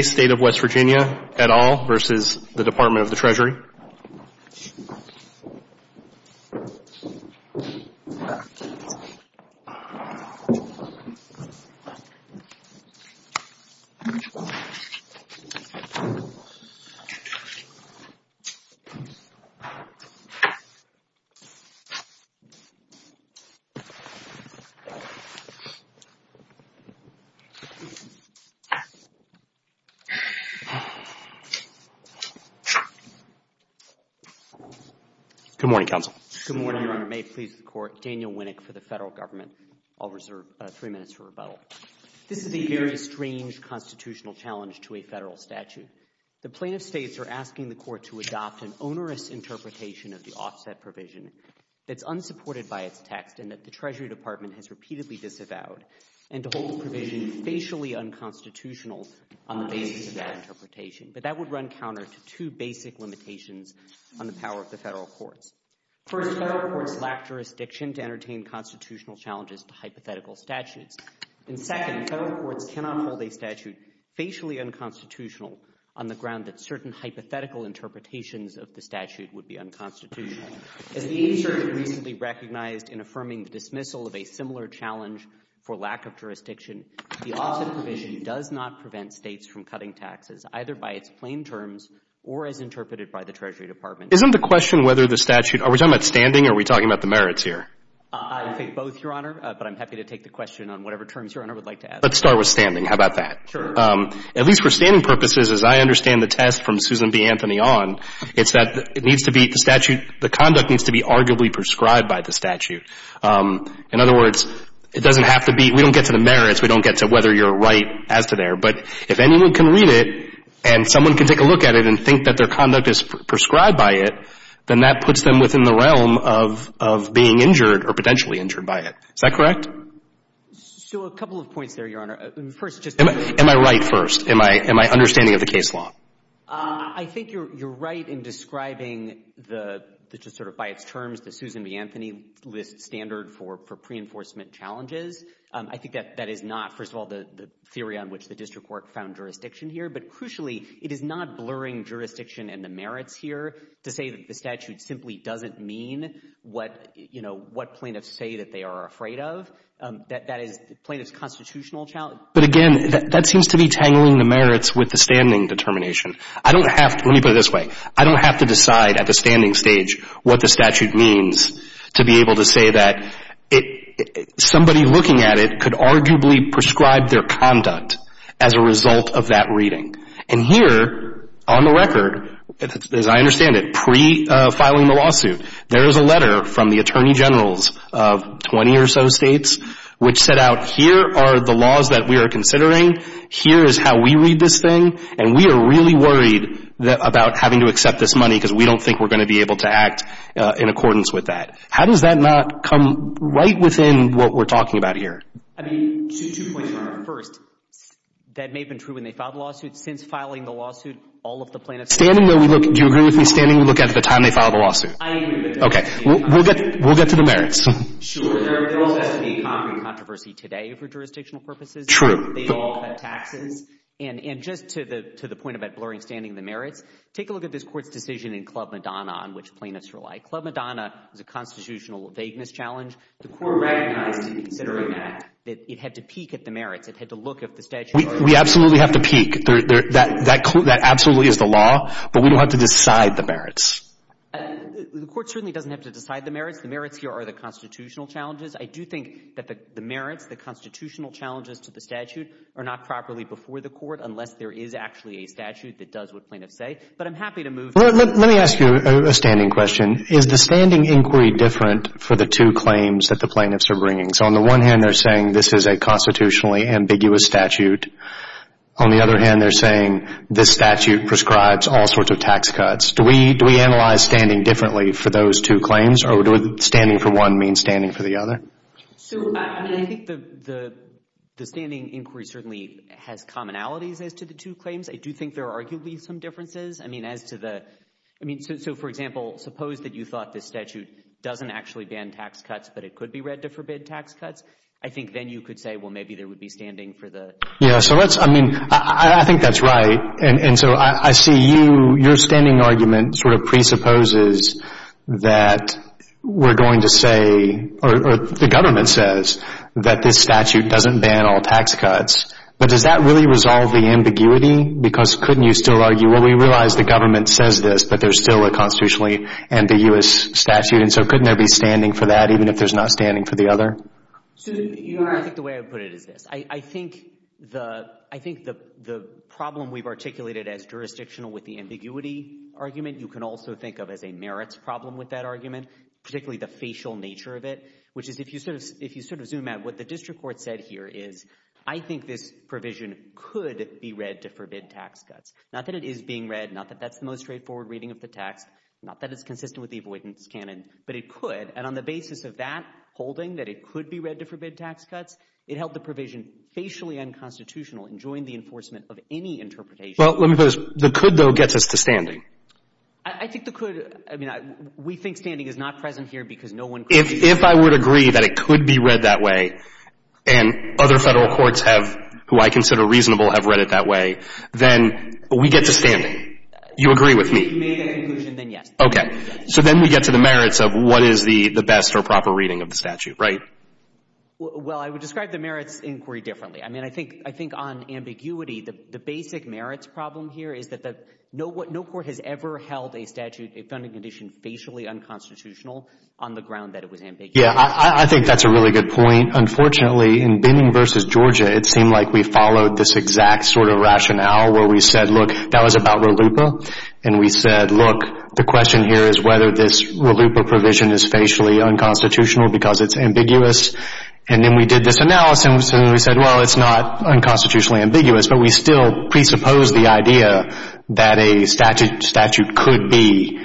State of West Virginia at all versus the Department of the Treasury? Good morning, Counsel. Good morning, Your Honor. May it please the Court, Daniel Winnick for the Federal Government. I'll reserve three minutes for rebuttal. This is a very strange constitutional challenge to a Federal statute. The plaintiffs' states are asking the Court to adopt an onerous interpretation of the offset provision that's unsupported by its text and that the Treasury Department has But that would run counter to two basic limitations on the power of the Federal Courts. First, Federal Courts lack jurisdiction to entertain constitutional challenges to hypothetical statutes. And second, Federal Courts cannot hold a statute facially unconstitutional on the ground that certain hypothetical interpretations of the statute would be unconstitutional. As the agency recently recognized in affirming the dismissal of a similar challenge for lack of jurisdiction, the offset provision does not prevent states from cutting taxes either by its plain terms or as interpreted by the Treasury Department. Isn't the question whether the statute — are we talking about standing or are we talking about the merits here? I think both, Your Honor, but I'm happy to take the question on whatever terms Your Honor would like to ask. Let's start with standing. How about that? Sure. At least for standing purposes, as I understand the test from Susan B. Anthony on, it's that it needs to be — the statute — the conduct needs to be arguably prescribed by the statute. In other words, it doesn't have to be — we don't get to the merits. We don't get to whether you're right as to there. But if anyone can read it and someone can take a look at it and think that their conduct is prescribed by it, then that puts them within the realm of being injured or potentially injured by it. Is that correct? So a couple of points there, Your Honor. First, just — Am I right first? Am I understanding of the case law? I think you're right in describing the — just sort of by its terms, the Susan B. Anthony list standard for pre-enforcement challenges. I think that that is not, first of all, the theory on which the district court found jurisdiction here. But crucially, it is not blurring jurisdiction and the merits here to say that the statute simply doesn't mean what, you know, what plaintiffs say that they are afraid of. That is plaintiff's constitutional challenge. But again, that seems to be tangling the merits with the standing determination. I don't have to — let me put it this way. I don't have to decide at the standing stage what the statute means to be able to say that somebody looking at it could arguably prescribe their conduct as a result of that reading. And here, on the record, as I understand it, pre-filing the lawsuit, there is a letter from the attorney generals of 20 or so states which set out here are the things that we are considering. Here is how we read this thing. And we are really worried about having to accept this money because we don't think we're going to be able to act in accordance with that. How does that not come right within what we're talking about here? I mean, two points, Your Honor. First, that may have been true when they filed the lawsuit. Since filing the lawsuit, all of the plaintiffs — Standing though we look — do you agree with me? Standing we look at the time they filed the lawsuit? I agree with that. Okay. We'll get to the merits. Sure. There also has to be a concrete controversy today for jurisdictional purposes. True. They all have taxes. And just to the point about blurring standing the merits, take a look at this Court's decision in Club Madonna on which plaintiffs were like. Club Madonna is a constitutional vagueness challenge. The Court recognized in considering that it had to peek at the merits. It had to look at the statutory merits. We absolutely have to peek. That absolutely is the law. But we don't have to decide the merits. The Court certainly doesn't have to decide the merits. The merits here are the constitutional challenges. I do think that the merits, the constitutional challenges to the statute are not properly before the Court unless there is actually a statute that does what plaintiffs say. But I'm happy to move — Let me ask you a standing question. Is the standing inquiry different for the two claims that the plaintiffs are bringing? So on the one hand, they're saying this is a constitutionally ambiguous statute. On the other hand, they're saying this statute prescribes all sorts of tax cuts. Do we analyze standing differently for those two claims? Or would standing for one mean standing for the other? So, I mean, I think the standing inquiry certainly has commonalities as to the two claims. I do think there are arguably some differences. I mean, as to the — I mean, so for example, suppose that you thought this statute doesn't actually ban tax cuts, but it could be read to forbid tax cuts. I think then you could say, well, maybe there would be standing for the — Yeah, so let's — I mean, I think that's right. And so I see you — your standing argument sort of presupposes that we're going to say — or the government says that this statute doesn't ban all tax cuts. But does that really resolve the ambiguity? Because couldn't you still argue, well, we realize the government says this, but there's still a constitutionally ambiguous statute, and so couldn't there be standing for that even if there's not standing for the other? Susan, you are — I think the way I would put it is this. I think the problem we've articulated as jurisdictional with the ambiguity argument you can also think of as a merits problem with that argument, particularly the facial nature of it, which is if you sort of zoom out, what the district court said here is, I think this provision could be read to forbid tax cuts. Not that it is being read, not that that's the most straightforward reading of the text, not that it's consistent with the avoidance canon, but it could. And on the basis of that holding, that it could be read to forbid tax cuts, it held the provision facially unconstitutional and joined the enforcement of any interpretation. Well, let me put it this way. The could, though, gets us to standing. I think the could — I mean, we think standing is not present here because no one could. If I would agree that it could be read that way and other Federal courts have, who I consider reasonable, have read it that way, then we get to standing. You agree with me. If you made a conclusion, then yes. Okay. So then we get to the merits of what is the best or proper reading of the statute, right? Well, I would describe the merits inquiry differently. I mean, I think on ambiguity, the basic merits problem here is that no court has ever held a statute, a funding condition, facially unconstitutional on the ground that it was ambiguous. Yeah, I think that's a really good point. Unfortunately, in Binning v. Georgia, it seemed like we followed this exact sort of rationale where we said, look, that was about RLUIPA. And we said, look, the question here is whether this RLUIPA provision is facially unconstitutional because it's ambiguous. And then we did this analysis, and we said, well, it's not unconstitutionally ambiguous. But we still presuppose the idea that a statute could be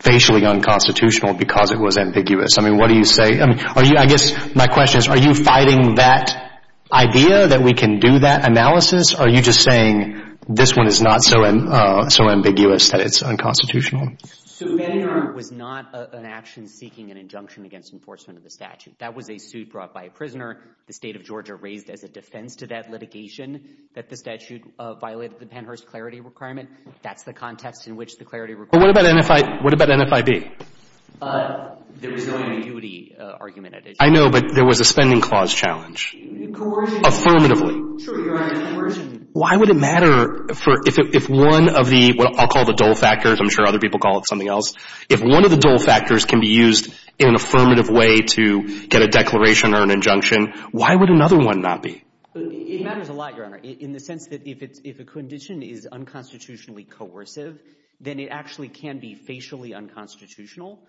facially unconstitutional because it was ambiguous. I mean, what do you say? I guess my question is, are you fighting that idea that we can do that analysis, or are you just saying this one is not so ambiguous that it's unconstitutional? So Benninger was not an action seeking an injunction against enforcement of the statute. That was a suit brought by a prisoner. The State of Georgia raised as a defense to that litigation that the statute violated the Pennhurst Clarity Requirement. That's the context in which the Clarity Requirement was brought. But what about NFIB? There is no ambiguity argument at issue. I know, but there was a spending clause challenge. Coercion. Affirmatively. Sure, you're right. Coercion. Why would it matter if one of the, what I'll call the dull factors, I'm sure other people call it something else, if one of the dull factors can be used in an affirmative way to get a declaration or an injunction, why would another one not be? It matters a lot, Your Honor, in the sense that if a condition is unconstitutionally coercive, then it actually can be facially unconstitutional.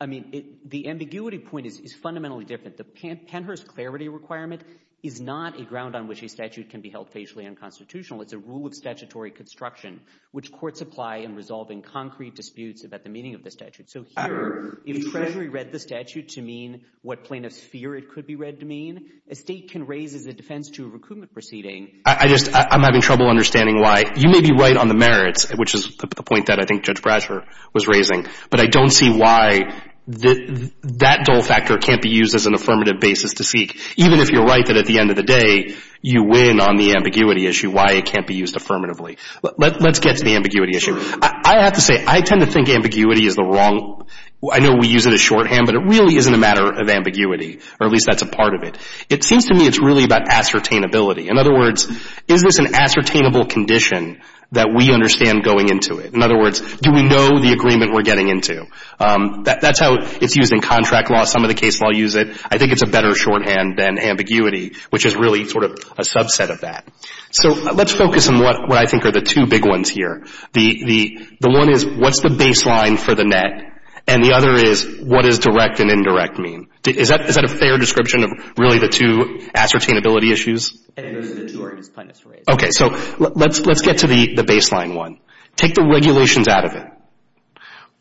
I mean, the ambiguity point is fundamentally different. I think that the Pennhurst Clarity Requirement is not a ground on which a statute can be held facially unconstitutional. It's a rule of statutory construction, which courts apply in resolving concrete disputes about the meaning of the statute. So here, if Treasury read the statute to mean what plaintiffs fear it could be read to mean, a State can raise as a defense to a recoupment proceeding. I just, I'm having trouble understanding why. You may be right on the merits, which is the point that I think Judge Brasher was raising, but I don't see why that dull factor can't be used as an affirmative basis to seek, even if you're right that at the end of the day, you win on the ambiguity issue, why it can't be used affirmatively. Let's get to the ambiguity issue. I have to say, I tend to think ambiguity is the wrong, I know we use it as shorthand, but it really isn't a matter of ambiguity, or at least that's a part of it. It seems to me it's really about ascertainability. In other words, is this an ascertainable condition that we understand going into it? In other words, do we know the agreement we're getting into? That's how it's used in contract law. Some of the cases I'll use it. I think it's a better shorthand than ambiguity, which is really sort of a subset of that. So let's focus on what I think are the two big ones here. The one is, what's the baseline for the net? And the other is, what does direct and indirect mean? Is that a fair description of really the two ascertainability issues? Okay, so let's get to the baseline one. Take the regulations out of it.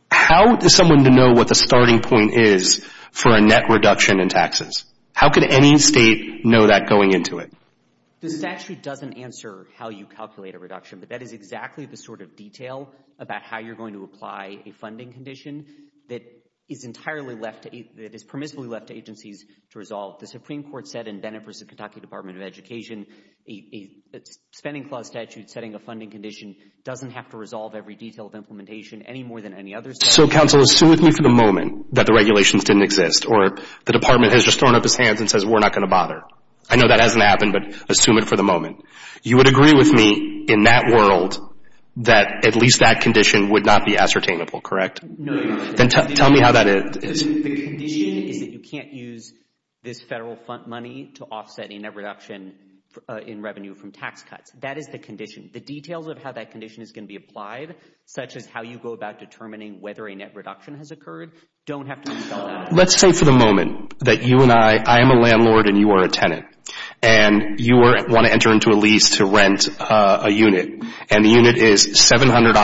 How is someone to know what the starting point is for a net reduction in taxes? How could any state know that going into it? The statute doesn't answer how you calculate a reduction, but that is exactly the sort of detail about how you're going to apply a funding condition that is entirely left, that is permissibly left to agencies to resolve. The Supreme Court said in Bennett v. Kentucky Department of Education, a spending clause statute setting a funding condition doesn't have to resolve every detail of implementation any more than any other statute. So, counsel, assume with me for the moment that the regulations didn't exist or the department has just thrown up its hands and says, we're not going to bother. I know that hasn't happened, but assume it for the moment. You would agree with me in that world that at least that condition would not be ascertainable, correct? No. Then tell me how that is. The condition is that you can't use this federal fund money to offset a net reduction in revenue from tax cuts. That is the condition. The details of how that condition is going to be applied, such as how you go about determining whether a net reduction has occurred, don't have to be dealt with. Let's say for the moment that you and I, I am a landlord and you are a tenant, and you want to enter into a lease to rent a unit, and the unit is $700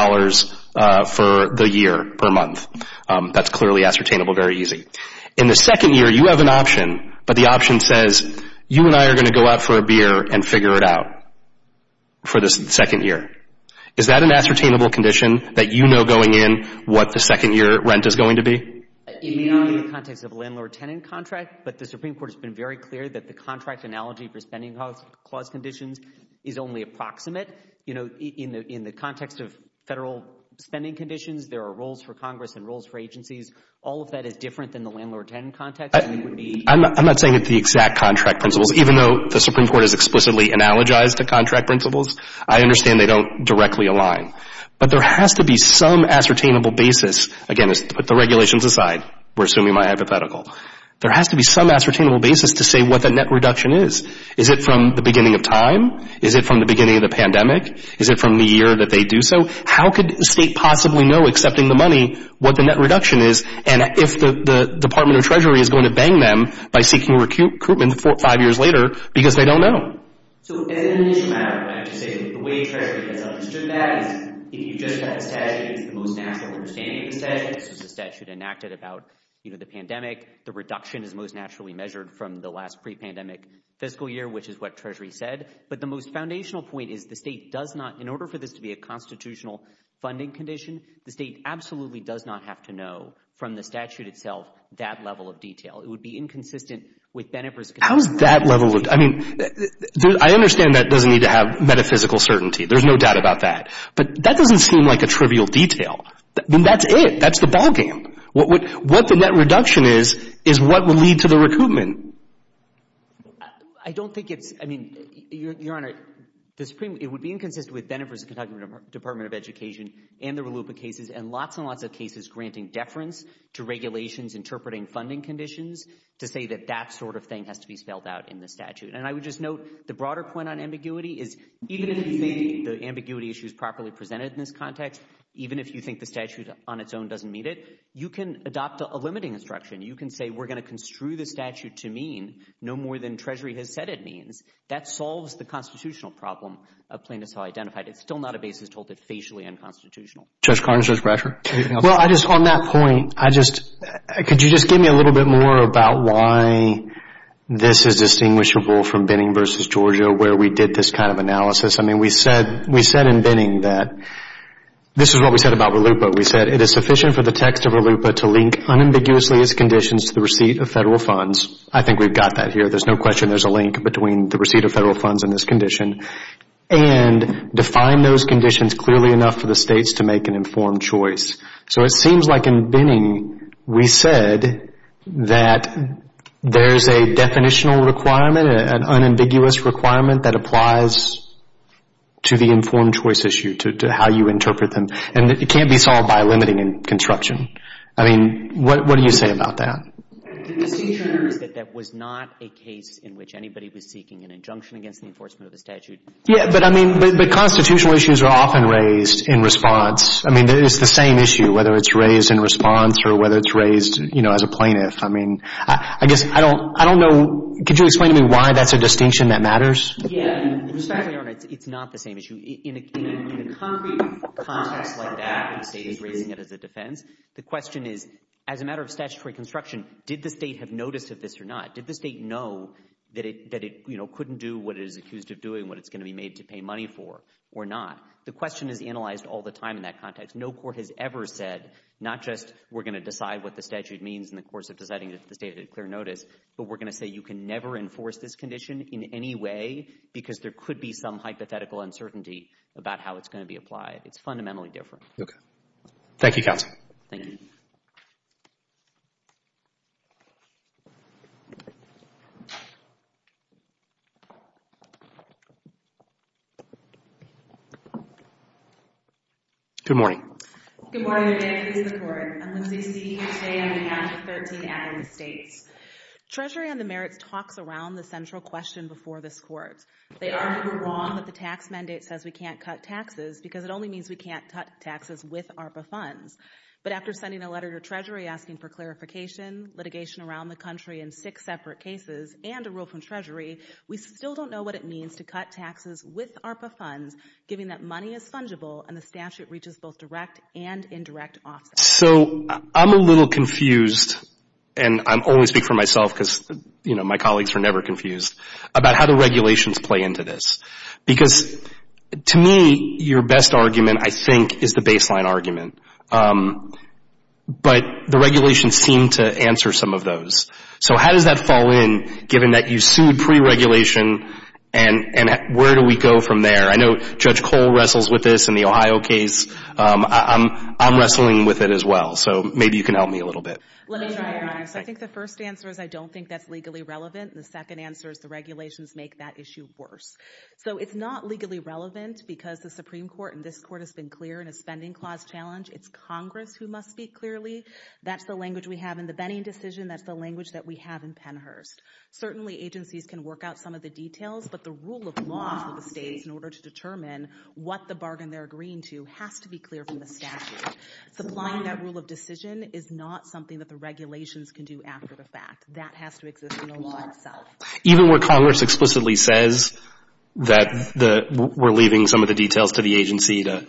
for the year per month. That's clearly ascertainable, very easy. In the second year, you have an option, but the option says you and I are going to go out for a beer and figure it out for the second year. Is that an ascertainable condition that you know going in what the second year rent is going to be? It may not be in the context of a landlord-tenant contract, but the Supreme Court has been very clear that the contract analogy for spending clause conditions is only approximate. there are roles for Congress and roles for agencies. All of that is different than the landlord-tenant context? I'm not saying it's the exact contract principles. Even though the Supreme Court has explicitly analogized the contract principles, I understand they don't directly align. But there has to be some ascertainable basis. Again, let's put the regulations aside. We're assuming my hypothetical. There has to be some ascertainable basis to say what the net reduction is. Is it from the beginning of time? Is it from the beginning of the pandemic? Is it from the year that they do so? How could the state possibly know, accepting the money, what the net reduction is, and if the Department of Treasury is going to bang them by seeking recruitment five years later because they don't know? As an issue matter, I have to say that the way Treasury has understood that is if you just have the statute, it's the most natural understanding of the statute. The statute enacted about the pandemic. The reduction is most naturally measured from the last pre-pandemic fiscal year, which is what Treasury said. But the most foundational point is the state does not, in order for this to be a constitutional funding condition, the state absolutely does not have to know from the statute itself that level of detail. It would be inconsistent with Benefer's concern. How is that level of detail? I mean, I understand that doesn't need to have metaphysical certainty. There's no doubt about that. But that doesn't seem like a trivial detail. Then that's it. That's the ballgame. What the net reduction is is what will lead to the recruitment. I don't think it's, I mean, Your Honor, it would be inconsistent with Benefer's and the Kentucky Department of Education and the Ralupa cases and lots and lots of cases granting deference to regulations interpreting funding conditions to say that that sort of thing has to be spelled out in the statute. And I would just note the broader point on ambiguity is even if you think the ambiguity issue is properly presented in this context, even if you think the statute on its own doesn't meet it, you can adopt a limiting instruction. You can say we're going to construe the statute to mean no more than Treasury has said it means. That solves the constitutional problem of plaintiffs who are identified. It's still not a basis to hold it facially unconstitutional. Judge Carnes, Judge Brasher, anything else? Well, I just, on that point, I just, could you just give me a little bit more about why this is distinguishable from Binning v. Georgia where we did this kind of analysis? I mean, we said in Binning that this is what we said about Ralupa. We said, It is sufficient for the text of Ralupa to link unambiguously its conditions to the receipt of federal funds. I think we've got that here. There's no question there's a link between the receipt of federal funds and this condition. And define those conditions clearly enough for the states to make an informed choice. So it seems like in Binning we said that there's a definitional requirement, an unambiguous requirement that applies to the informed choice issue, to how you interpret them. And it can't be solved by limiting and construction. I mean, what do you say about that? The distinction is that that was not a case in which anybody was seeking an injunction against the enforcement of the statute. Yeah, but I mean, but constitutional issues are often raised in response. I mean, it's the same issue, whether it's raised in response or whether it's raised, you know, as a plaintiff. I mean, I guess I don't know. Could you explain to me why that's a distinction that matters? Yeah. Respectfully, Your Honor, it's not the same issue. In a concrete context like that, the state is raising it as a defense. The question is, as a matter of statutory construction, did the state have notice of this or not? Did the state know that it, you know, couldn't do what it is accused of doing, what it's going to be made to pay money for or not? The question is analyzed all the time in that context. No court has ever said not just we're going to decide what the statute means in the course of deciding if the state had clear notice, but we're going to say you can never enforce this condition in any way because there could be some hypothetical uncertainty about how it's going to be applied. It's fundamentally different. Okay. Thank you, counsel. Thank you. Good morning. Good morning, and good day to the court. I'm Lindsay Seeley. I'm here today on behalf of 13 ad hoc states. Treasury on the merits talks around the central question before this court. They argue we're wrong that the tax mandate says we can't cut taxes because it only means we can't cut taxes with ARPA funds. But after sending a letter to Treasury asking for clarification, litigation around the country in six separate cases, and a rule from Treasury, we still don't know what it means to cut taxes with ARPA funds, given that money is fungible and the statute reaches both direct and indirect offsets. So I'm a little confused, and I always speak for myself because, you know, my colleagues are never confused, about how the regulations play into this. Because, to me, your best argument, I think, is the baseline argument. But the regulations seem to answer some of those. So how does that fall in, given that you sued pre-regulation, and where do we go from there? I know Judge Cole wrestles with this in the Ohio case. I'm wrestling with it as well. So maybe you can help me a little bit. Let me try. I think the first answer is I don't think that's legally relevant. And the second answer is the regulations make that issue worse. So it's not legally relevant because the Supreme Court and this Court has been clear in a spending clause challenge. It's Congress who must speak clearly. That's the language we have in the Benning decision. That's the language that we have in Pennhurst. Certainly, agencies can work out some of the details, but the rule of law for the states in order to determine what the bargain they're agreeing to has to be clear from the statute. Supplying that rule of decision is not something that the regulations can do after the fact. That has to exist in the law itself. Even where Congress explicitly says that we're leaving some of the details to the agency to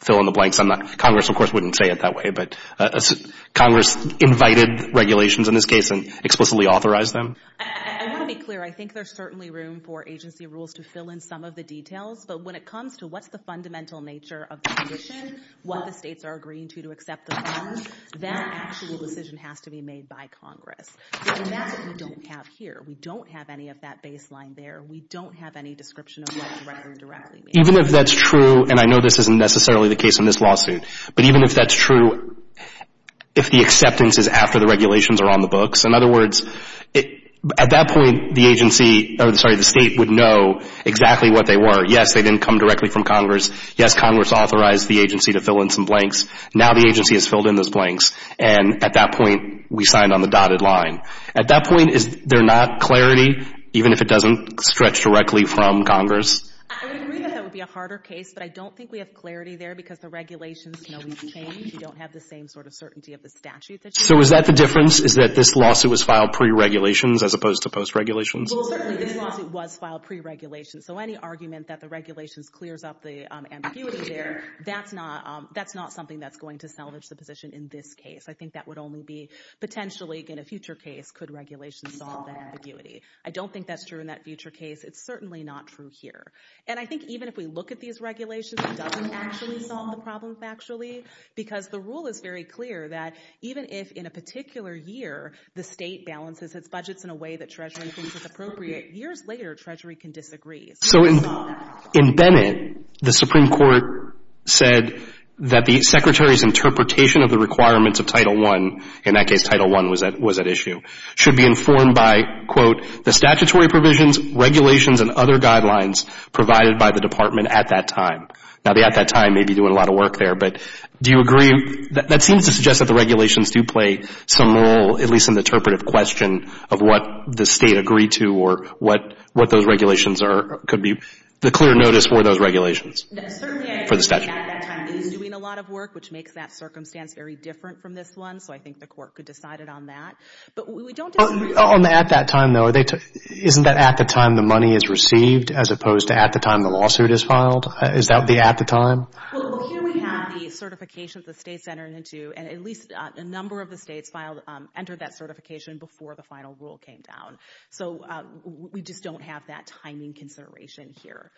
fill in the blanks? Congress, of course, wouldn't say it that way, but Congress invited regulations in this case and explicitly authorized them? I want to be clear. I think there's certainly room for agency rules to fill in some of the details, but when it comes to what's the fundamental nature of the condition, what the states are agreeing to to accept the bargain, that actual decision has to be made by Congress. That's what we don't have here. We don't have any of that baseline there. We don't have any description of what the record directly means. Even if that's true, and I know this isn't necessarily the case in this lawsuit, but even if that's true, if the acceptance is after the regulations are on the books, in other words, at that point the state would know exactly what they were. Yes, they didn't come directly from Congress. Yes, Congress authorized the agency to fill in some blanks. Now the agency has filled in those blanks, and at that point we signed on the dotted line. At that point, is there not clarity, even if it doesn't stretch directly from Congress? I would agree that that would be a harder case, but I don't think we have clarity there because the regulations can always change. We don't have the same sort of certainty of the statute that you have. So is that the difference, is that this lawsuit was filed pre-regulations as opposed to post-regulations? Well, certainly this lawsuit was filed pre-regulations, so any argument that the regulations clears up the ambiguity there, that's not something that's going to salvage the position in this case. I think that would only be potentially in a future case could regulations solve that ambiguity. I don't think that's true in that future case. It's certainly not true here. And I think even if we look at these regulations, it doesn't actually solve the problem factually because the rule is very clear that even if in a particular year the state balances its budgets in a way that Treasury thinks is appropriate, years later Treasury can disagree. So in Bennett, the Supreme Court said that the Secretary's interpretation of the requirements of Title I, in that case Title I was at issue, should be informed by, quote, the statutory provisions, regulations, and other guidelines provided by the Department at that time. Now the at that time may be doing a lot of work there, but do you agree? That seems to suggest that the regulations do play some role, at least in the interpretive question of what the state agreed to or what those regulations are, could be the clear notice for those regulations for the statute. No, certainly I think the at that time is doing a lot of work, which makes that circumstance very different from this one. So I think the court could decide it on that. But we don't disagree. On the at that time, though, isn't that at the time the money is received as opposed to at the time the lawsuit is filed? Is that the at the time? Well, here we have the certification that the states entered into, and at least a number of the states entered that certification before the final rule came down. So we just don't have that timing consideration here.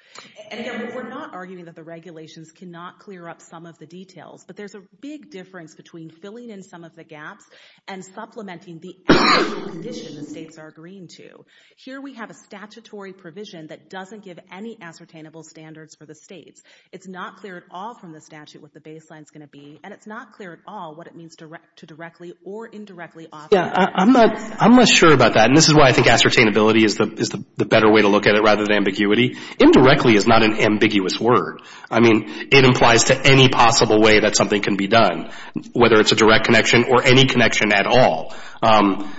And again, we're not arguing that the regulations cannot clear up some of the details, but there's a big difference between filling in some of the gaps and supplementing the actual condition the states are agreeing to. Here we have a statutory provision that doesn't give any ascertainable standards for the states. It's not clear at all from the statute what the baseline is going to be, and it's not clear at all what it means to directly or indirectly offer. Yeah, I'm not sure about that, and this is why I think ascertainability is the better way to look at it rather than ambiguity. Indirectly is not an ambiguous word. I mean, it implies to any possible way that something can be done, whether it's a direct connection or any connection at all.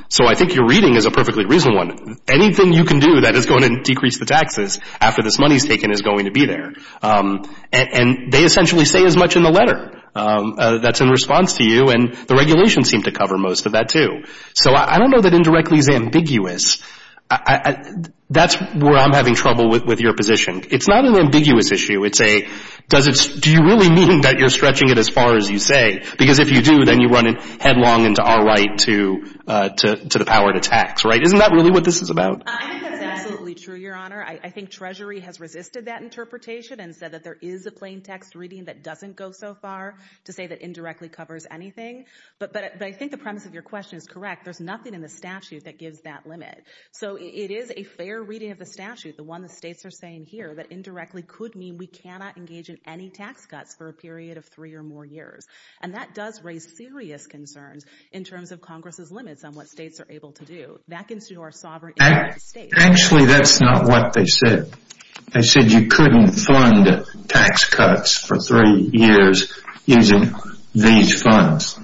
So I think your reading is a perfectly reasonable one. Anything you can do that is going to decrease the taxes after this money is taken is going to be there. And they essentially say as much in the letter that's in response to you, and the regulations seem to cover most of that too. So I don't know that indirectly is ambiguous. That's where I'm having trouble with your position. It's not an ambiguous issue. It's a, do you really mean that you're stretching it as far as you say? Because if you do, then you run headlong into our right to the power to tax, right? Isn't that really what this is about? I think that's absolutely true, Your Honor. I think Treasury has resisted that interpretation and said that there is a plain text reading that doesn't go so far to say that indirectly covers anything. But I think the premise of your question is correct. There's nothing in the statute that gives that limit. So it is a fair reading of the statute, the one the states are saying here, that indirectly could mean we cannot engage in any tax cuts for a period of three or more years. And that does raise serious concerns in terms of Congress's limits on what states are able to do. That gives you our sovereign interest state. Actually, that's not what they said. They said you couldn't fund tax cuts for three years using these funds.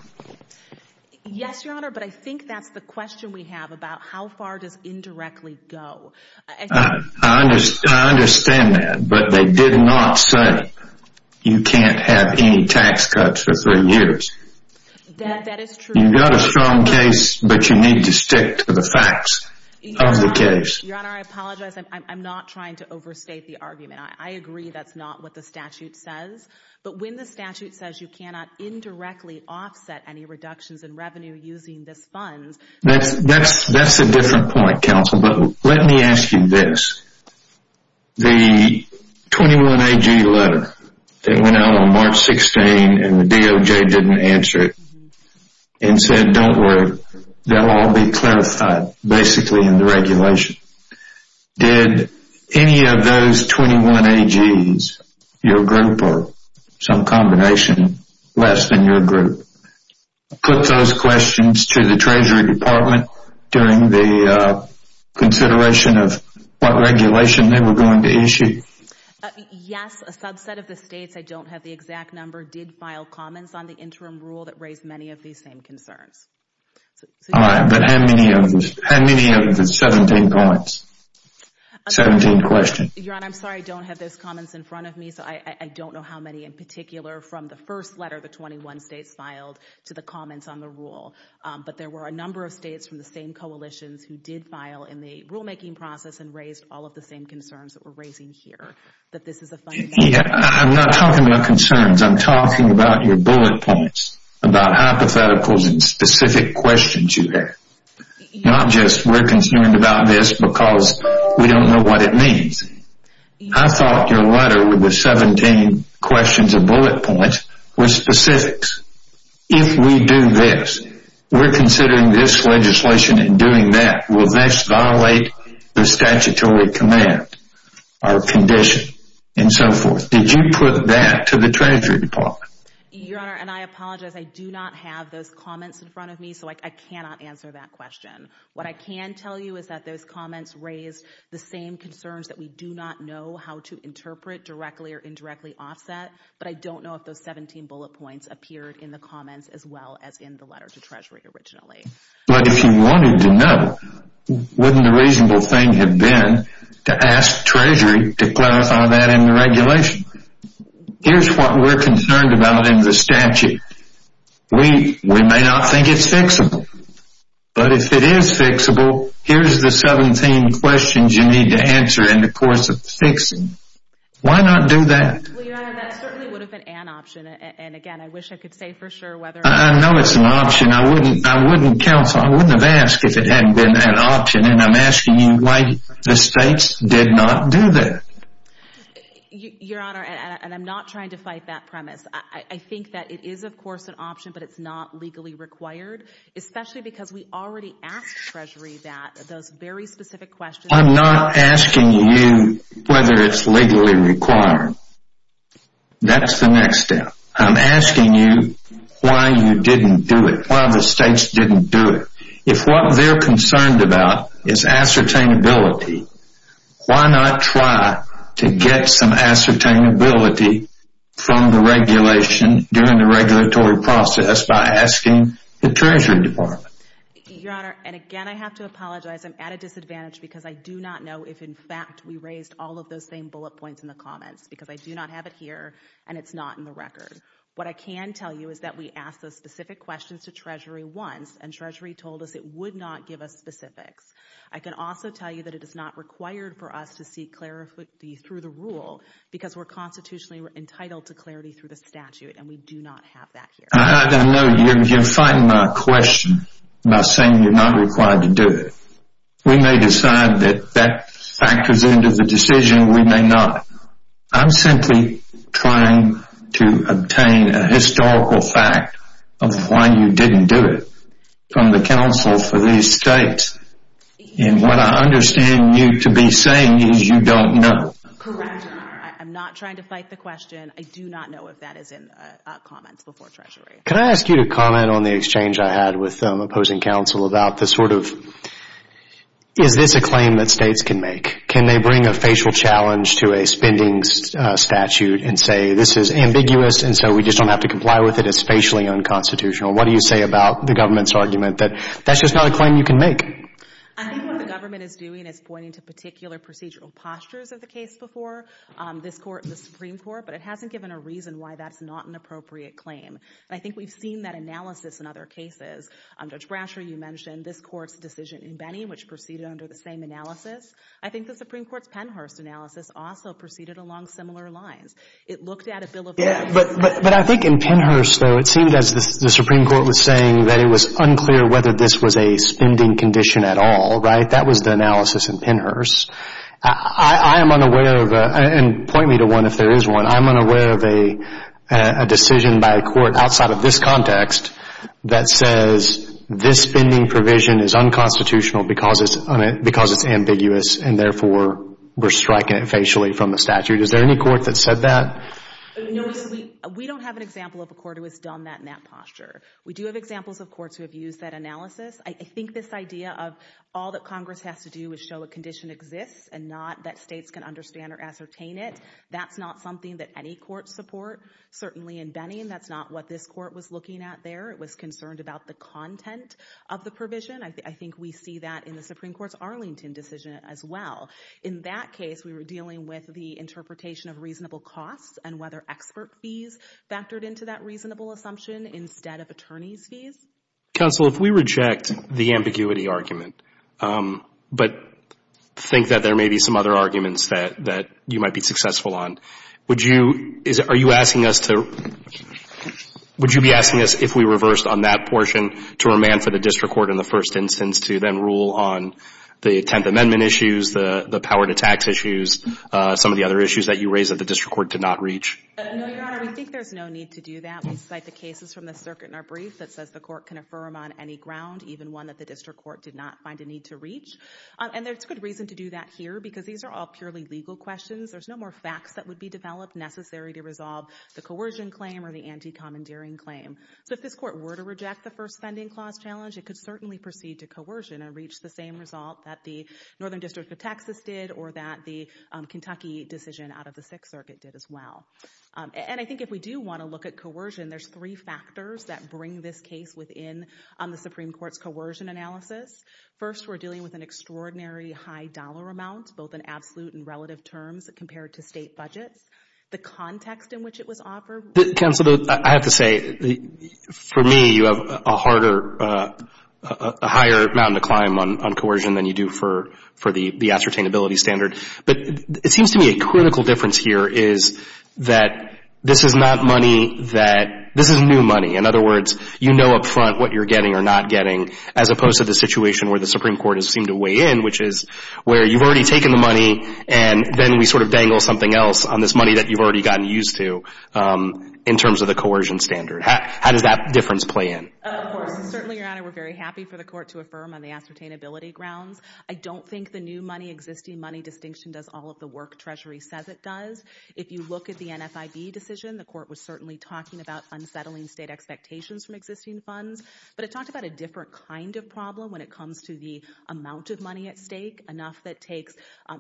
Yes, Your Honor, but I think that's the question we have about how far does indirectly go. I understand that, but they did not say you can't have any tax cuts for three years. That is true. You've got a strong case, but you need to stick to the facts of the case. Your Honor, I apologize. I'm not trying to overstate the argument. I agree that's not what the statute says. But when the statute says you cannot indirectly offset any reductions in revenue using these funds. That's a different point, counsel. But let me ask you this. The 21-AG letter that went out on March 16 and the DOJ didn't answer it and said don't worry, they'll all be clarified basically in the regulation. Did any of those 21-AG's, your group or some combination less than your group, put those questions to the Treasury Department during the consideration of what regulation they were going to issue? Yes, a subset of the states, I don't have the exact number, did file comments on the interim rule that raised many of these same concerns. All right, but how many of the 17 comments, 17 questions? Your Honor, I'm sorry, I don't have those comments in front of me, so I don't know how many in particular from the first letter the 21 states filed to the comments on the rule. But there were a number of states from the same coalitions who did file in the rulemaking process and raised all of the same concerns that we're raising here, that this is a funding issue. I'm not talking about concerns. I'm talking about your bullet points, about hypotheticals and specific questions you have. Not just we're concerned about this because we don't know what it means. I thought your letter with the 17 questions and bullet points were specifics. If we do this, we're considering this legislation and doing that will thus violate the statutory command or condition and so forth. Did you put that to the Treasury Department? Your Honor, and I apologize, I do not have those comments in front of me, so I cannot answer that question. What I can tell you is that those comments raised the same concerns that we do not know how to interpret directly or indirectly offset, but I don't know if those 17 bullet points appeared in the comments as well as in the letter to Treasury originally. But if you wanted to know, wouldn't a reasonable thing have been to ask Treasury to clarify that in the regulation? Here's what we're concerned about in the statute. We may not think it's fixable, but if it is fixable, here's the 17 questions you need to answer in the course of fixing. Why not do that? Well, Your Honor, that certainly would have been an option, and again, I wish I could say for sure whether... I know it's an option. I wouldn't have asked if it hadn't been that option, and I'm asking you why the states did not do that. Your Honor, and I'm not trying to fight that premise. I think that it is, of course, an option, but it's not legally required, especially because we already asked Treasury that those very specific questions... I'm not asking you whether it's legally required. That's the next step. I'm asking you why you didn't do it, why the states didn't do it. If what they're concerned about is ascertainability, why not try to get some ascertainability from the regulation during the regulatory process by asking the Treasury Department? Your Honor, and again, I have to apologize. I'm at a disadvantage because I do not know if, in fact, we raised all of those same bullet points in the comments, because I do not have it here, and it's not in the record. What I can tell you is that we asked those specific questions to Treasury once, and Treasury told us it would not give us specifics. I can also tell you that it is not required for us to seek clarity through the rule, because we're constitutionally entitled to clarity through the statute, and we do not have that here. I don't know. You're fighting my question by saying you're not required to do it. We may decide that that factors into the decision. We may not. I'm simply trying to obtain a historical fact of why you didn't do it from the counsel for these states, and what I understand you to be saying is you don't know. Correct. I'm not trying to fight the question. I do not know if that is in the comments before Treasury. Can I ask you to comment on the exchange I had with the opposing counsel about the sort of, is this a claim that states can make? Can they bring a facial challenge to a spending statute and say, this is ambiguous, and so we just don't have to comply with it? It's facially unconstitutional. What do you say about the government's argument that that's just not a claim you can make? I think what the government is doing is pointing to particular procedural postures of the case before this Supreme Court, but it hasn't given a reason why that's not an appropriate claim, and I think we've seen that analysis in other cases. Judge Brasher, you mentioned this Court's decision in Benny, which proceeded under the same analysis. I think the Supreme Court's Pennhurst analysis also proceeded along similar lines. It looked at a bill of rights. But I think in Pennhurst, though, it seemed as the Supreme Court was saying that it was unclear whether this was a spending condition at all, right? That was the analysis in Pennhurst. I am unaware of, and point me to one if there is one, I am unaware of a decision by a court outside of this context that says this spending provision is unconstitutional because it's ambiguous, and therefore we're striking it facially from the statute. Is there any court that said that? No, we don't have an example of a court who has done that in that posture. We do have examples of courts who have used that analysis. I think this idea of all that Congress has to do is show a condition exists and not that states can understand or ascertain it, that's not something that any courts support, certainly in Benny, and that's not what this court was looking at there. It was concerned about the content of the provision. I think we see that in the Supreme Court's Arlington decision as well. In that case, we were dealing with the interpretation of reasonable costs and whether expert fees factored into that reasonable assumption instead of attorneys' fees. Counsel, if we reject the ambiguity argument but think that there may be some other arguments that you might be successful on, would you be asking us if we reversed on that portion to remand for the district court in the first instance to then rule on the 10th Amendment issues, the power to tax issues, some of the other issues that you raised that the district court did not reach? No, Your Honor. I think there's no need to do that. We cite the cases from the circuit in our brief that says the court can affirm on any ground, even one that the district court did not find a need to reach. And there's good reason to do that here because these are all purely legal questions. There's no more facts that would be developed necessary to resolve the coercion claim or the anti-commandeering claim. So if this court were to reject the First Vending Clause challenge, it could certainly proceed to coercion and reach the same result that the Northern District of Texas did or that the Kentucky decision out of the Sixth Circuit did as well. And I think if we do want to look at coercion, there's three factors that bring this case within the Supreme Court's coercion analysis. First, we're dealing with an extraordinary high dollar amount, both in absolute and relative terms, compared to state budgets. The context in which it was offered... Counsel, I have to say, for me, you have a higher mountain to climb on coercion than you do for the ascertainability standard. But it seems to me a critical difference here is that this is not money that... This is new money. In other words, you know up front what you're getting or not getting, as opposed to the situation where the Supreme Court has seemed to weigh in, which is where you've already taken the money and then we sort of dangle something else on this money that you've already gotten used to in terms of the coercion standard. How does that difference play in? Of course. Certainly, Your Honor, we're very happy for the Court to affirm on the ascertainability grounds. I don't think the new money, existing money distinction does all of the work Treasury says it does. If you look at the NFIB decision, the Court was certainly talking about unsettling state expectations from existing funds, but it talked about a different kind of problem when it comes to the amount of money at stake, enough that takes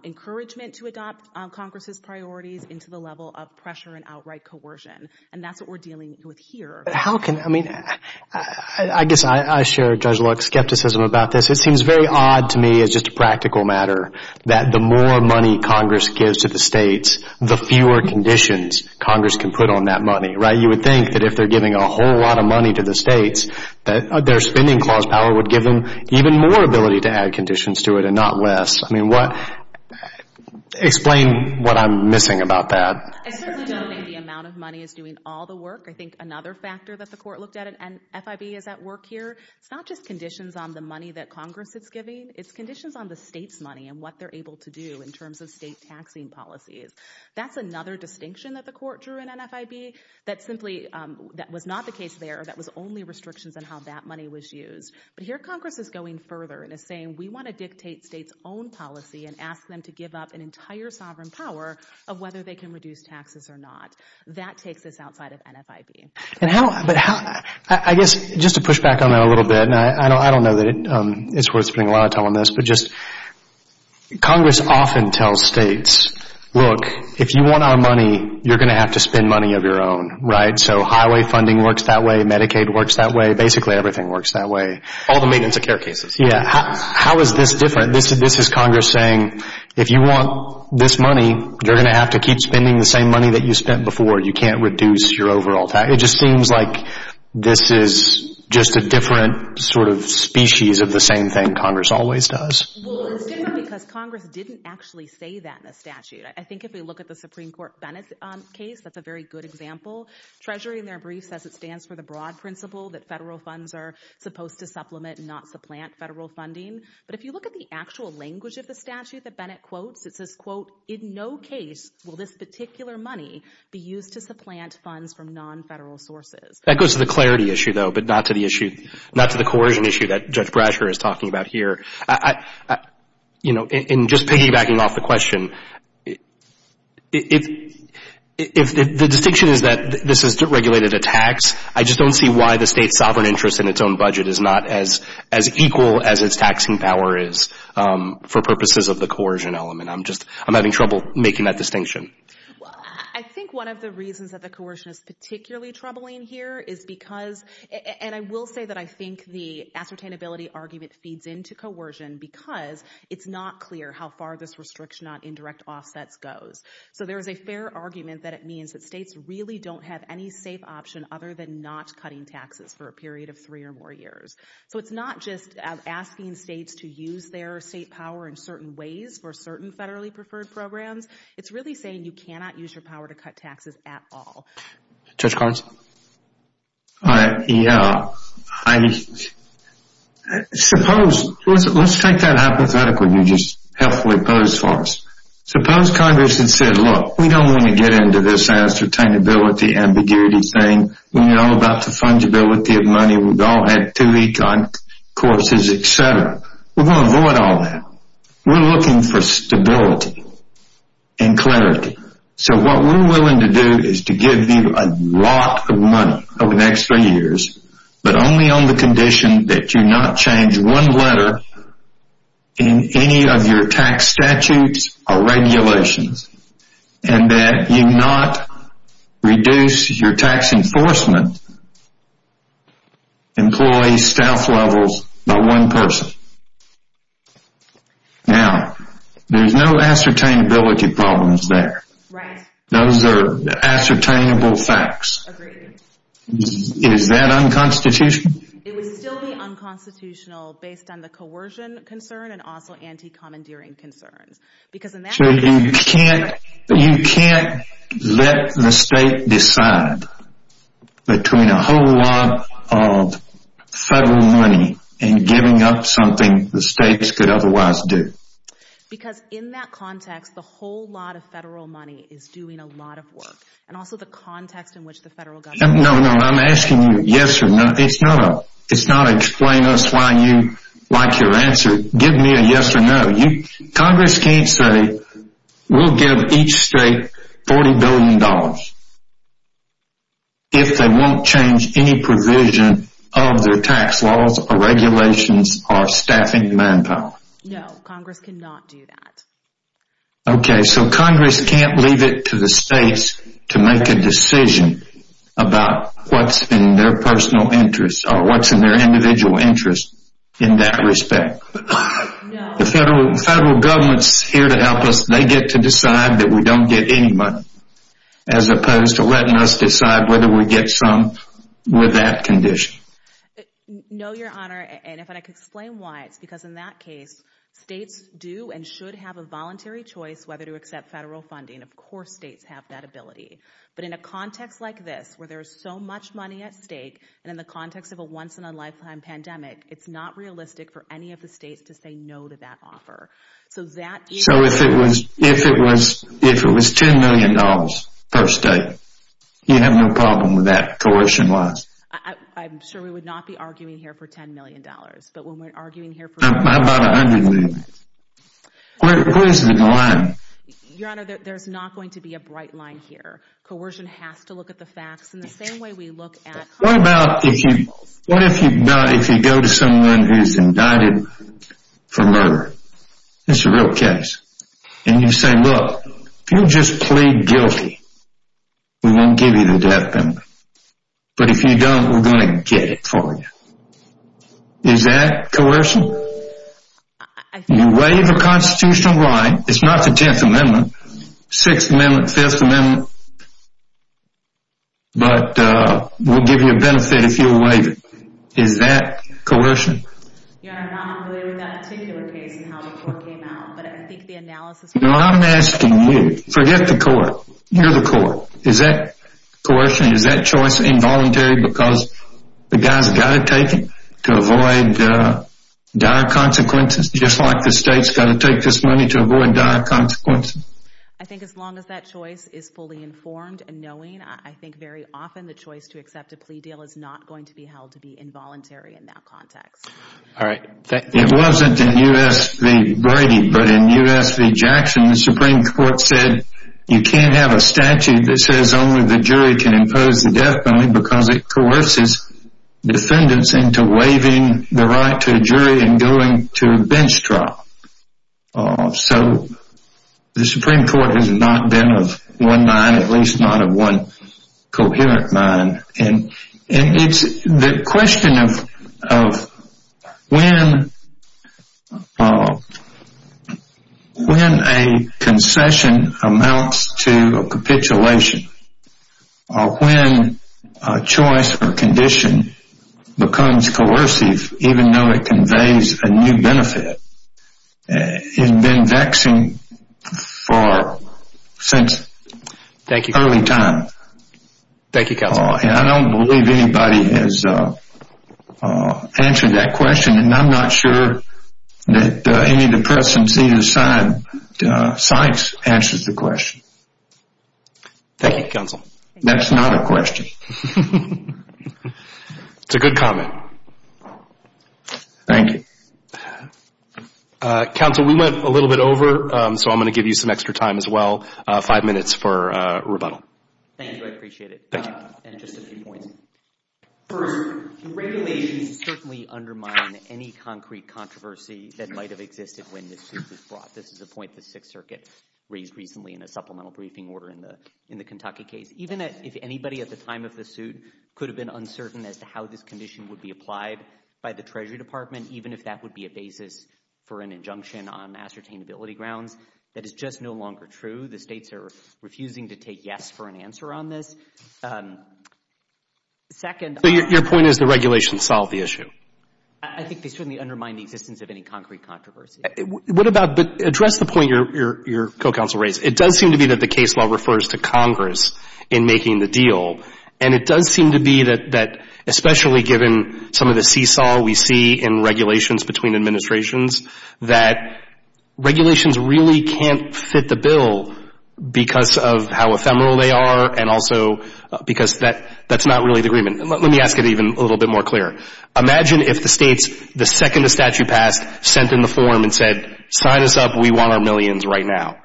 encouragement to adopt Congress's priorities into the level of pressure and outright coercion. And that's what we're dealing with here. But how can... I mean, I guess I share Judge Luck's skepticism about this. It seems very odd to me as just a practical matter that the more money Congress gives to the states, the fewer conditions Congress can put on that money, right? You would think that if they're giving a whole lot of money to the states, that their spending clause power would give them even more ability to add conditions to it and not less. I mean, what... Explain what I'm missing about that. I certainly don't think the amount of money is doing all the work. I think another factor that the Court looked at, and FIB is at work here, it's not just conditions on the money that Congress is giving, it's conditions on the states' money and what they're able to do in terms of state taxing policies. That's another distinction that the Court drew in NFIB that simply... that was not the case there, that was only restrictions on how that money was used. But here Congress is going further and is saying, we want to dictate states' own policy and ask them to give up an entire sovereign power of whether they can reduce taxes or not. That takes us outside of NFIB. And how... but how... I guess, just to push back on that a little bit, and I don't know that it's worth spending a lot of time on this, but just... Congress often tells states, look, if you want our money, you're going to have to spend money of your own, right? So highway funding works that way, Medicaid works that way, basically everything works that way. All the maintenance of care cases. Yeah, how is this different? This is Congress saying, if you want this money, you're going to have to keep spending the same money that you spent before. You can't reduce your overall tax. It just seems like this is just a different sort of species of the same thing Congress always does. Well, it's different because Congress didn't actually say that in the statute. I think if we look at the Supreme Court Bennett case, that's a very good example. Treasury, in their brief, says it stands for the broad principle that federal funds are supposed to supplement and not supplant federal funding. But if you look at the actual language of the statute that Bennett quotes, it says, quote, in no case will this particular money be used to supplant funds from non-federal sources. That goes to the clarity issue, though, but not to the coercion issue that Judge Brasher is talking about here. In just piggybacking off the question, the distinction is that this is regulated a tax. I just don't see why the state's sovereign interest in its own budget is not as equal as its taxing power is for purposes of the coercion element. I'm just, I'm having trouble making that distinction. Well, I think one of the reasons that the coercion is particularly troubling here is because, and I will say that I think the ascertainability argument feeds into coercion because it's not clear how far this restriction on indirect offsets goes. So there is a fair argument that it means that states really don't have any safe option other than not cutting taxes for a period of three or more years. So it's not just asking states to use their state power in certain ways for certain federally preferred programs. It's really saying you cannot use your power to cut taxes at all. Judge Collins? Yeah, I suppose, let's take that hypothetically you just helpfully posed for us. Suppose Congress had said, look, we don't want to get into this ascertainability ambiguity thing. We know about the fungibility of money. We've all had two econ courses, et cetera. We're going to avoid all that. We're looking for stability and clarity. So what we're willing to do is to give you a lot of money over the next three years, but only on the condition that you not change one letter in any of your tax statutes or regulations and that you not reduce your tax enforcement employee staff levels by one person. Now, there's no ascertainability problems there. Right. Those are ascertainable facts. Agreed. Is that unconstitutional? It would still be unconstitutional based on the coercion concern and also anti-commandeering concerns. So you can't let the state decide between a whole lot of federal money and giving up something the states could otherwise do. Because in that context, the whole lot of federal money is doing a lot of work and also the context in which the federal government... No, no, I'm asking you yes or no. It's not a explain us why you like your answer. Give me a yes or no. Congress can't say, we'll give each state $40 billion. If they won't change any provision of their tax laws or regulations or staffing manpower. No, Congress cannot do that. Okay, so Congress can't leave it to the states to make a decision about what's in their personal interest or what's in their individual interest in that respect. No. The federal government's here to help us. They get to decide that we don't get any money. As opposed to letting us decide whether we get some with that condition. No, your honor. And if I could explain why, it's because in that case, states do and should have a voluntary choice whether to accept federal funding. Of course, states have that ability. But in a context like this, where there's so much money at stake and in the context of a once in a lifetime pandemic, it's not realistic for any of the states to say no to that offer. So if it was $10 million per state, you'd have no problem with that coercion-wise? I'm sure we would not be arguing here for $10 million. But when we're arguing here for... How about $100 million? Where is the line? Your honor, there's not going to be a bright line here. Coercion has to look at the facts in the same way we look at... What about if you go to someone who's indicted for murder? It's a real case. And you say, look, if you'll just plead guilty, we won't give you the death penalty. But if you don't, we're going to get it for you. Is that coercion? You waive a constitutional right, it's not the 10th Amendment, 6th Amendment, 5th Amendment, but we'll give you a benefit if you waive it. Is that coercion? Your honor, I'm not familiar with that particular case and how the court came out, but I think the analysis... No, I'm asking you. Forget the court. You're the court. Is that coercion? Is that choice involuntary because the guy's got to take it to avoid dire consequences, just like the state's got to take this money to avoid dire consequences? I think as long as that choice is fully informed and knowing, I think very often the choice to accept a plea deal is not going to be held to be involuntary in that context. All right. It wasn't in U.S. v. Brady, but in U.S. v. Jackson, the Supreme Court said you can't have a statute that says only the jury can impose the death penalty because it coerces defendants into waiving the right to a jury and going to a bench trial. So the Supreme Court has not been of one mind, at least not of one coherent mind. And it's the question of when a concession amounts to a capitulation, when a choice or condition becomes coercive, even though it conveys a new benefit, has been vexing for... since early time. Thank you, counsel. And I don't believe anybody has answered that question, and I'm not sure that any of the press and senior science answers the question. Thank you, counsel. That's not a question. It's a good comment. Thank you. Counsel, we went a little bit over, so I'm going to give you some extra time as well, five minutes for rebuttal. Thank you. I really appreciate it. Thank you. And just a few points. First, the regulations certainly undermine any concrete controversy that might have existed when this suit was brought. This is a point the Sixth Circuit raised recently in a supplemental briefing order in the Kentucky case. Even if anybody at the time of the suit could have been uncertain as to how this condition would be applied by the Treasury Department, even if that would be a basis for an injunction on ascertainability grounds, that is just no longer true. The states are refusing to take yes for an answer on this. Second... So your point is the regulations solve the issue? I think they certainly undermine the existence of any concrete controversy. What about... But address the point your co-counsel raised. It does seem to be that the case law refers to Congress in making the deal, and it does seem to be that, especially given some of the seesaw we see in regulations between administrations, that regulations really can't fit the bill because of how ephemeral they are and also because that's not really the agreement. Let me ask it even a little bit more clear. Imagine if the states, the second a statute passed, sent in the form and said, sign us up, we want our millions right now,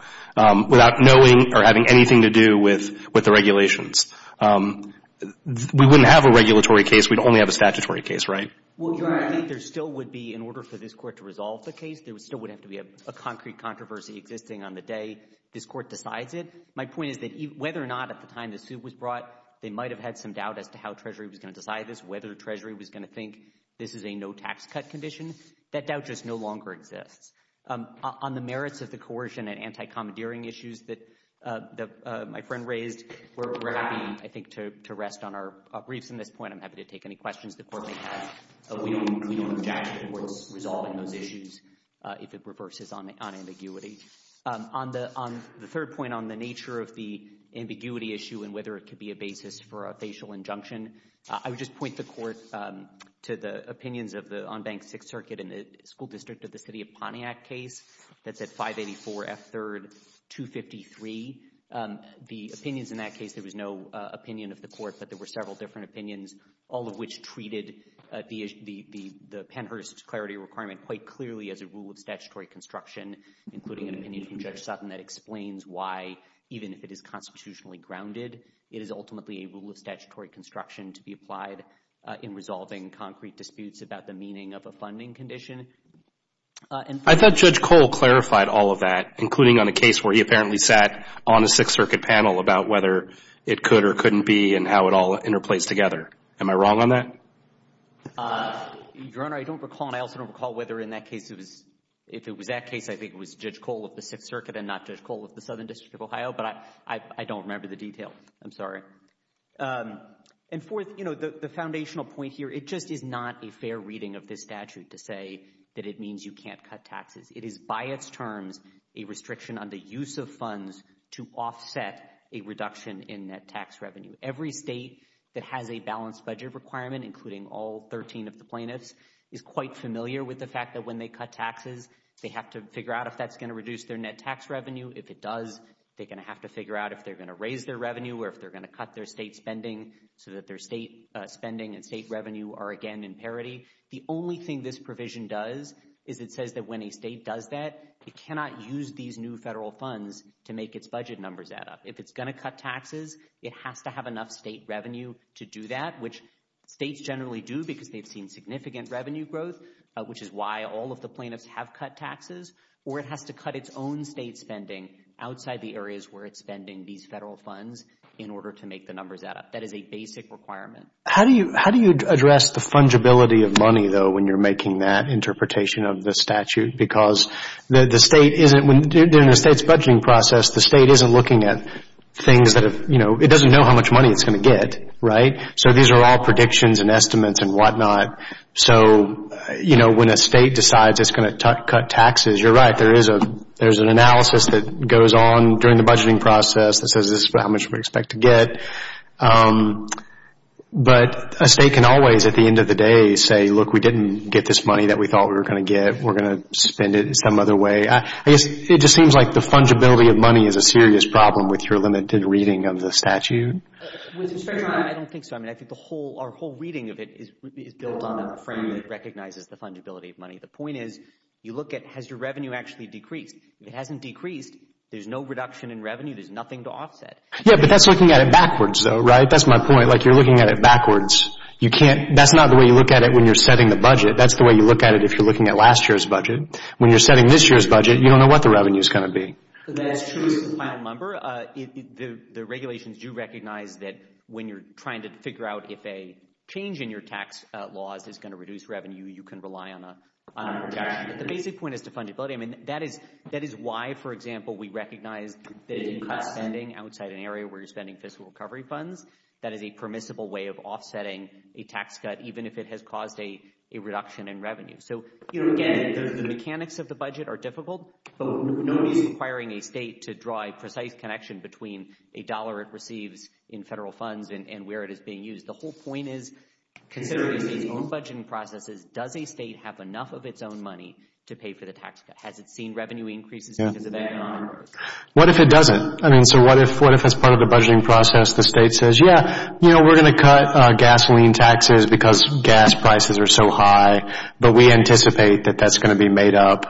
without knowing or having anything to do with the regulations. We wouldn't have a regulatory case. We'd only have a statutory case, right? Well, Your Honor, I think there still would be, in order for this court to resolve the case, there still would have to be a concrete controversy existing on the day this court decides it. My point is that whether or not at the time the suit was brought, they might have had some doubt as to how Treasury was going to decide this, whether Treasury was going to think this is a no-tax-cut condition. That doubt just no longer exists. On the merits of the coercion and anti-commandeering issues that my friend raised, we're happy, I think, to rest on our briefs on this point. I'm happy to take any questions the Court may have. We don't object to the Court's resolving those issues if it reverses on ambiguity. On the third point, on the nature of the ambiguity issue and whether it could be a basis for a facial injunction, I would just point the Court to the opinions of the unbanked Sixth Circuit and the School District of the City of Pontiac case that's at 584 F. 3rd 253. The opinions in that case, there was no opinion of the Court, but there were several different opinions, all of which treated the Pennhurst's clarity requirement quite clearly as a rule of statutory construction, including an opinion from Judge Sutton that explains why, even if it is constitutionally grounded, it is ultimately a rule of statutory construction to be applied in resolving concrete disputes about the meaning of a funding condition. I thought Judge Cole clarified all of that, including on a case where he apparently sat on a Sixth Circuit panel about whether it could or couldn't be and how it all interplays together. Am I wrong on that? Your Honor, I don't recall, and I also don't recall whether in that case it was, if it was that case, I think it was Judge Cole of the Sixth Circuit and not Judge Cole of the Southern District of Ohio, but I don't remember the detail. I'm sorry. And fourth, the foundational point here, it just is not a fair reading of this statute to say that it means you can't cut taxes. It is, by its terms, a restriction on the use of funds to offset a reduction in net tax revenue. Every state that has a balanced budget requirement, including all 13 of the plaintiffs, is quite familiar with the fact that when they cut taxes, they have to figure out if that's going to reduce their net tax revenue. If it does, they're going to have to figure out if they're going to raise their revenue or if they're going to cut their state spending so that their state spending and state revenue are again in parity. The only thing this provision does is it says that when a state does that, it cannot use these new federal funds to make its budget numbers add up. If it's going to cut taxes, it has to have enough state revenue to do that, which states generally do because they've seen significant revenue growth, which is why all of the plaintiffs have cut taxes, or it has to cut its own state spending outside the areas where it's spending these federal funds in order to make the numbers add up. That is a basic requirement. How do you address the fungibility of money, though, when you're making that interpretation of the statute? Because the state isn't... During the state's budgeting process, the state isn't looking at things that have... It doesn't know how much money it's going to get, right? So these are all predictions and estimates and whatnot. So when a state decides it's going to cut taxes, you're right, there is an analysis that goes on during the budgeting process that says this is how much we expect to get. But a state can always, at the end of the day, say, look, we didn't get this money that we thought we were going to get. We're going to spend it some other way. I guess it just seems like the fungibility of money is a serious problem with your limited reading of the statute. I don't think so. I mean, I think our whole reading of it is built on a frame that recognizes the fungibility of money. The point is, you look at, has your revenue actually decreased? It hasn't decreased. There's no reduction in revenue. There's nothing to offset. Yeah, but that's looking at it backwards, though, right? That's my point. Like, you're looking at it backwards. You can't... That's not the way you look at it when you're setting the budget. That's the way you look at it if you're looking at last year's budget. When you're setting this year's budget, you don't know what the revenue is going to be. That's true. It's the final number. The regulations do recognize that when you're trying to figure out if a change in your tax laws is going to reduce revenue, you can rely on a reduction. But the basic point is the fungibility. I mean, that is why, for example, we recognize that if you cut spending outside an area where you're spending fiscal recovery funds, that is a permissible way of offsetting a tax cut, even if it has caused a reduction in revenue. So, you know, again, the mechanics of the budget are difficult, but nobody's requiring a state to draw a precise connection between a dollar it receives in federal funds and where it is being used. The whole point is, considering state's own budgeting processes, does a state have enough of its own money to pay for the tax cut? Has it seen revenue increases because of that? What if it doesn't? I mean, so what if as part of the budgeting process the state says, yeah, you know, we're going to cut gasoline taxes because gas prices are so high, but we anticipate that that's going to be made up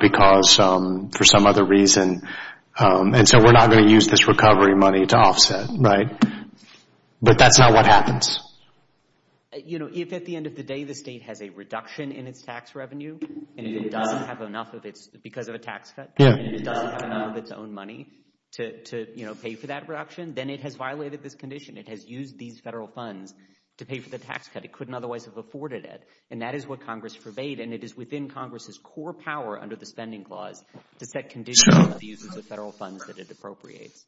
because, for some other reason, and so we're not going to use this recovery money to offset, right? But that's not what happens. You know, if at the end of the day the state has a reduction in its tax revenue, and it doesn't have enough of its, because of a tax cut, and it doesn't have enough of its own money to, you know, pay for that reduction, then it has violated this condition. It has used these federal funds to pay for the tax cut. It couldn't otherwise have afforded it, and that is what Congress forbade, and it is within Congress's core power under the Spending Clause to set conditions for the use of the federal funds that it appropriates.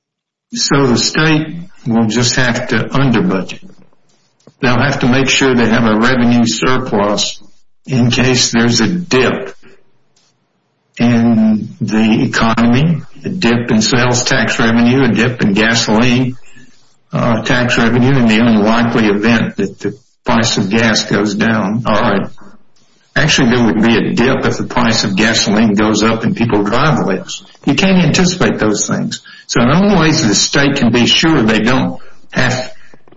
So the state will just have to under-budget. They'll have to make sure they have a revenue surplus in case there's a dip in the economy, a dip in sales tax revenue, a dip in gasoline tax revenue, in the unlikely event that the price of gas goes down. All right. Actually, there would be a dip if the price of gasoline goes up and people drive less. You can't anticipate those things. So one of the ways the state can be sure they don't have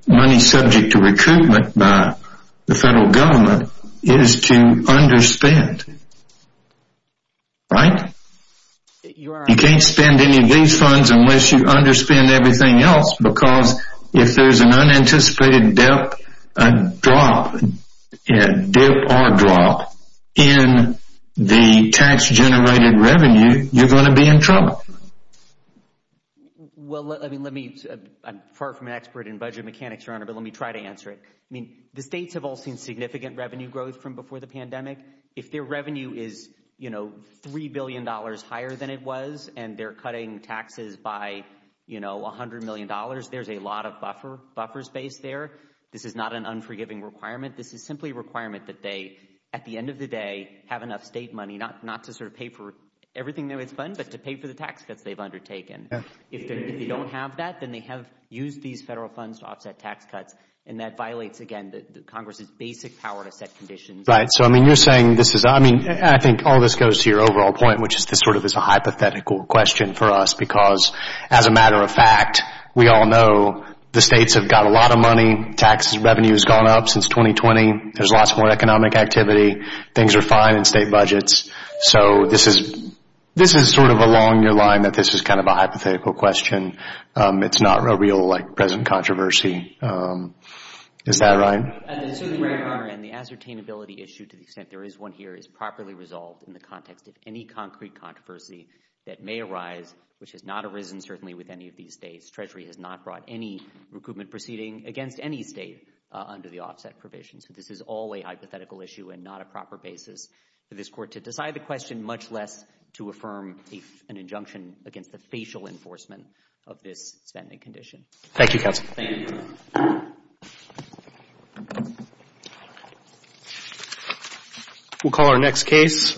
money subject to recruitment by the federal government is to under-spend. Right? You can't spend any of these funds unless you under-spend everything else because if there's an unanticipated dip, a drop, a dip or a drop, in the tax-generated revenue, you're going to be in trouble. Well, I mean, let me, I'm far from an expert in budget mechanics, Your Honor, but let me try to answer it. I mean, the states have all seen significant revenue growth from before the pandemic. If their revenue is, you know, $3 billion higher than it was and they're cutting taxes by, you know, $100 million, there's a lot of buffer space there. This is not an unforgiving requirement. This is simply a requirement that they, at the end of the day, have enough state money, not to sort of pay for everything they would spend, but to pay for the tax cuts they've undertaken. If they don't have that, then they have used these federal funds to offset tax cuts, and that violates, again, Congress's basic power to set conditions. Right. So, I mean, you're saying this is, I mean, I think all this goes to your overall point, which is this sort of is a hypothetical question for us because as a matter of fact, we all know the states have got a lot of money. Tax revenue has gone up since 2020. There's lots more economic activity. Things are fine in state budgets. So this is, this is sort of along your line that this is kind of a hypothetical question. It's not a real, like, present controversy. Is that right? Certainly, Mayor Conner, and the ascertainability issue, to the extent there is one here, is properly resolved in the context of any concrete controversy that may arise, which has not arisen, certainly, with any of these states. Treasury has not brought any recoupment proceeding against any state under the offset provision. So this is all a hypothetical issue and not a proper basis for this Court to decide the question, much less to affirm an injunction against the facial enforcement of this spending condition. Thank you, Counsel. Thank you. We'll call our next case.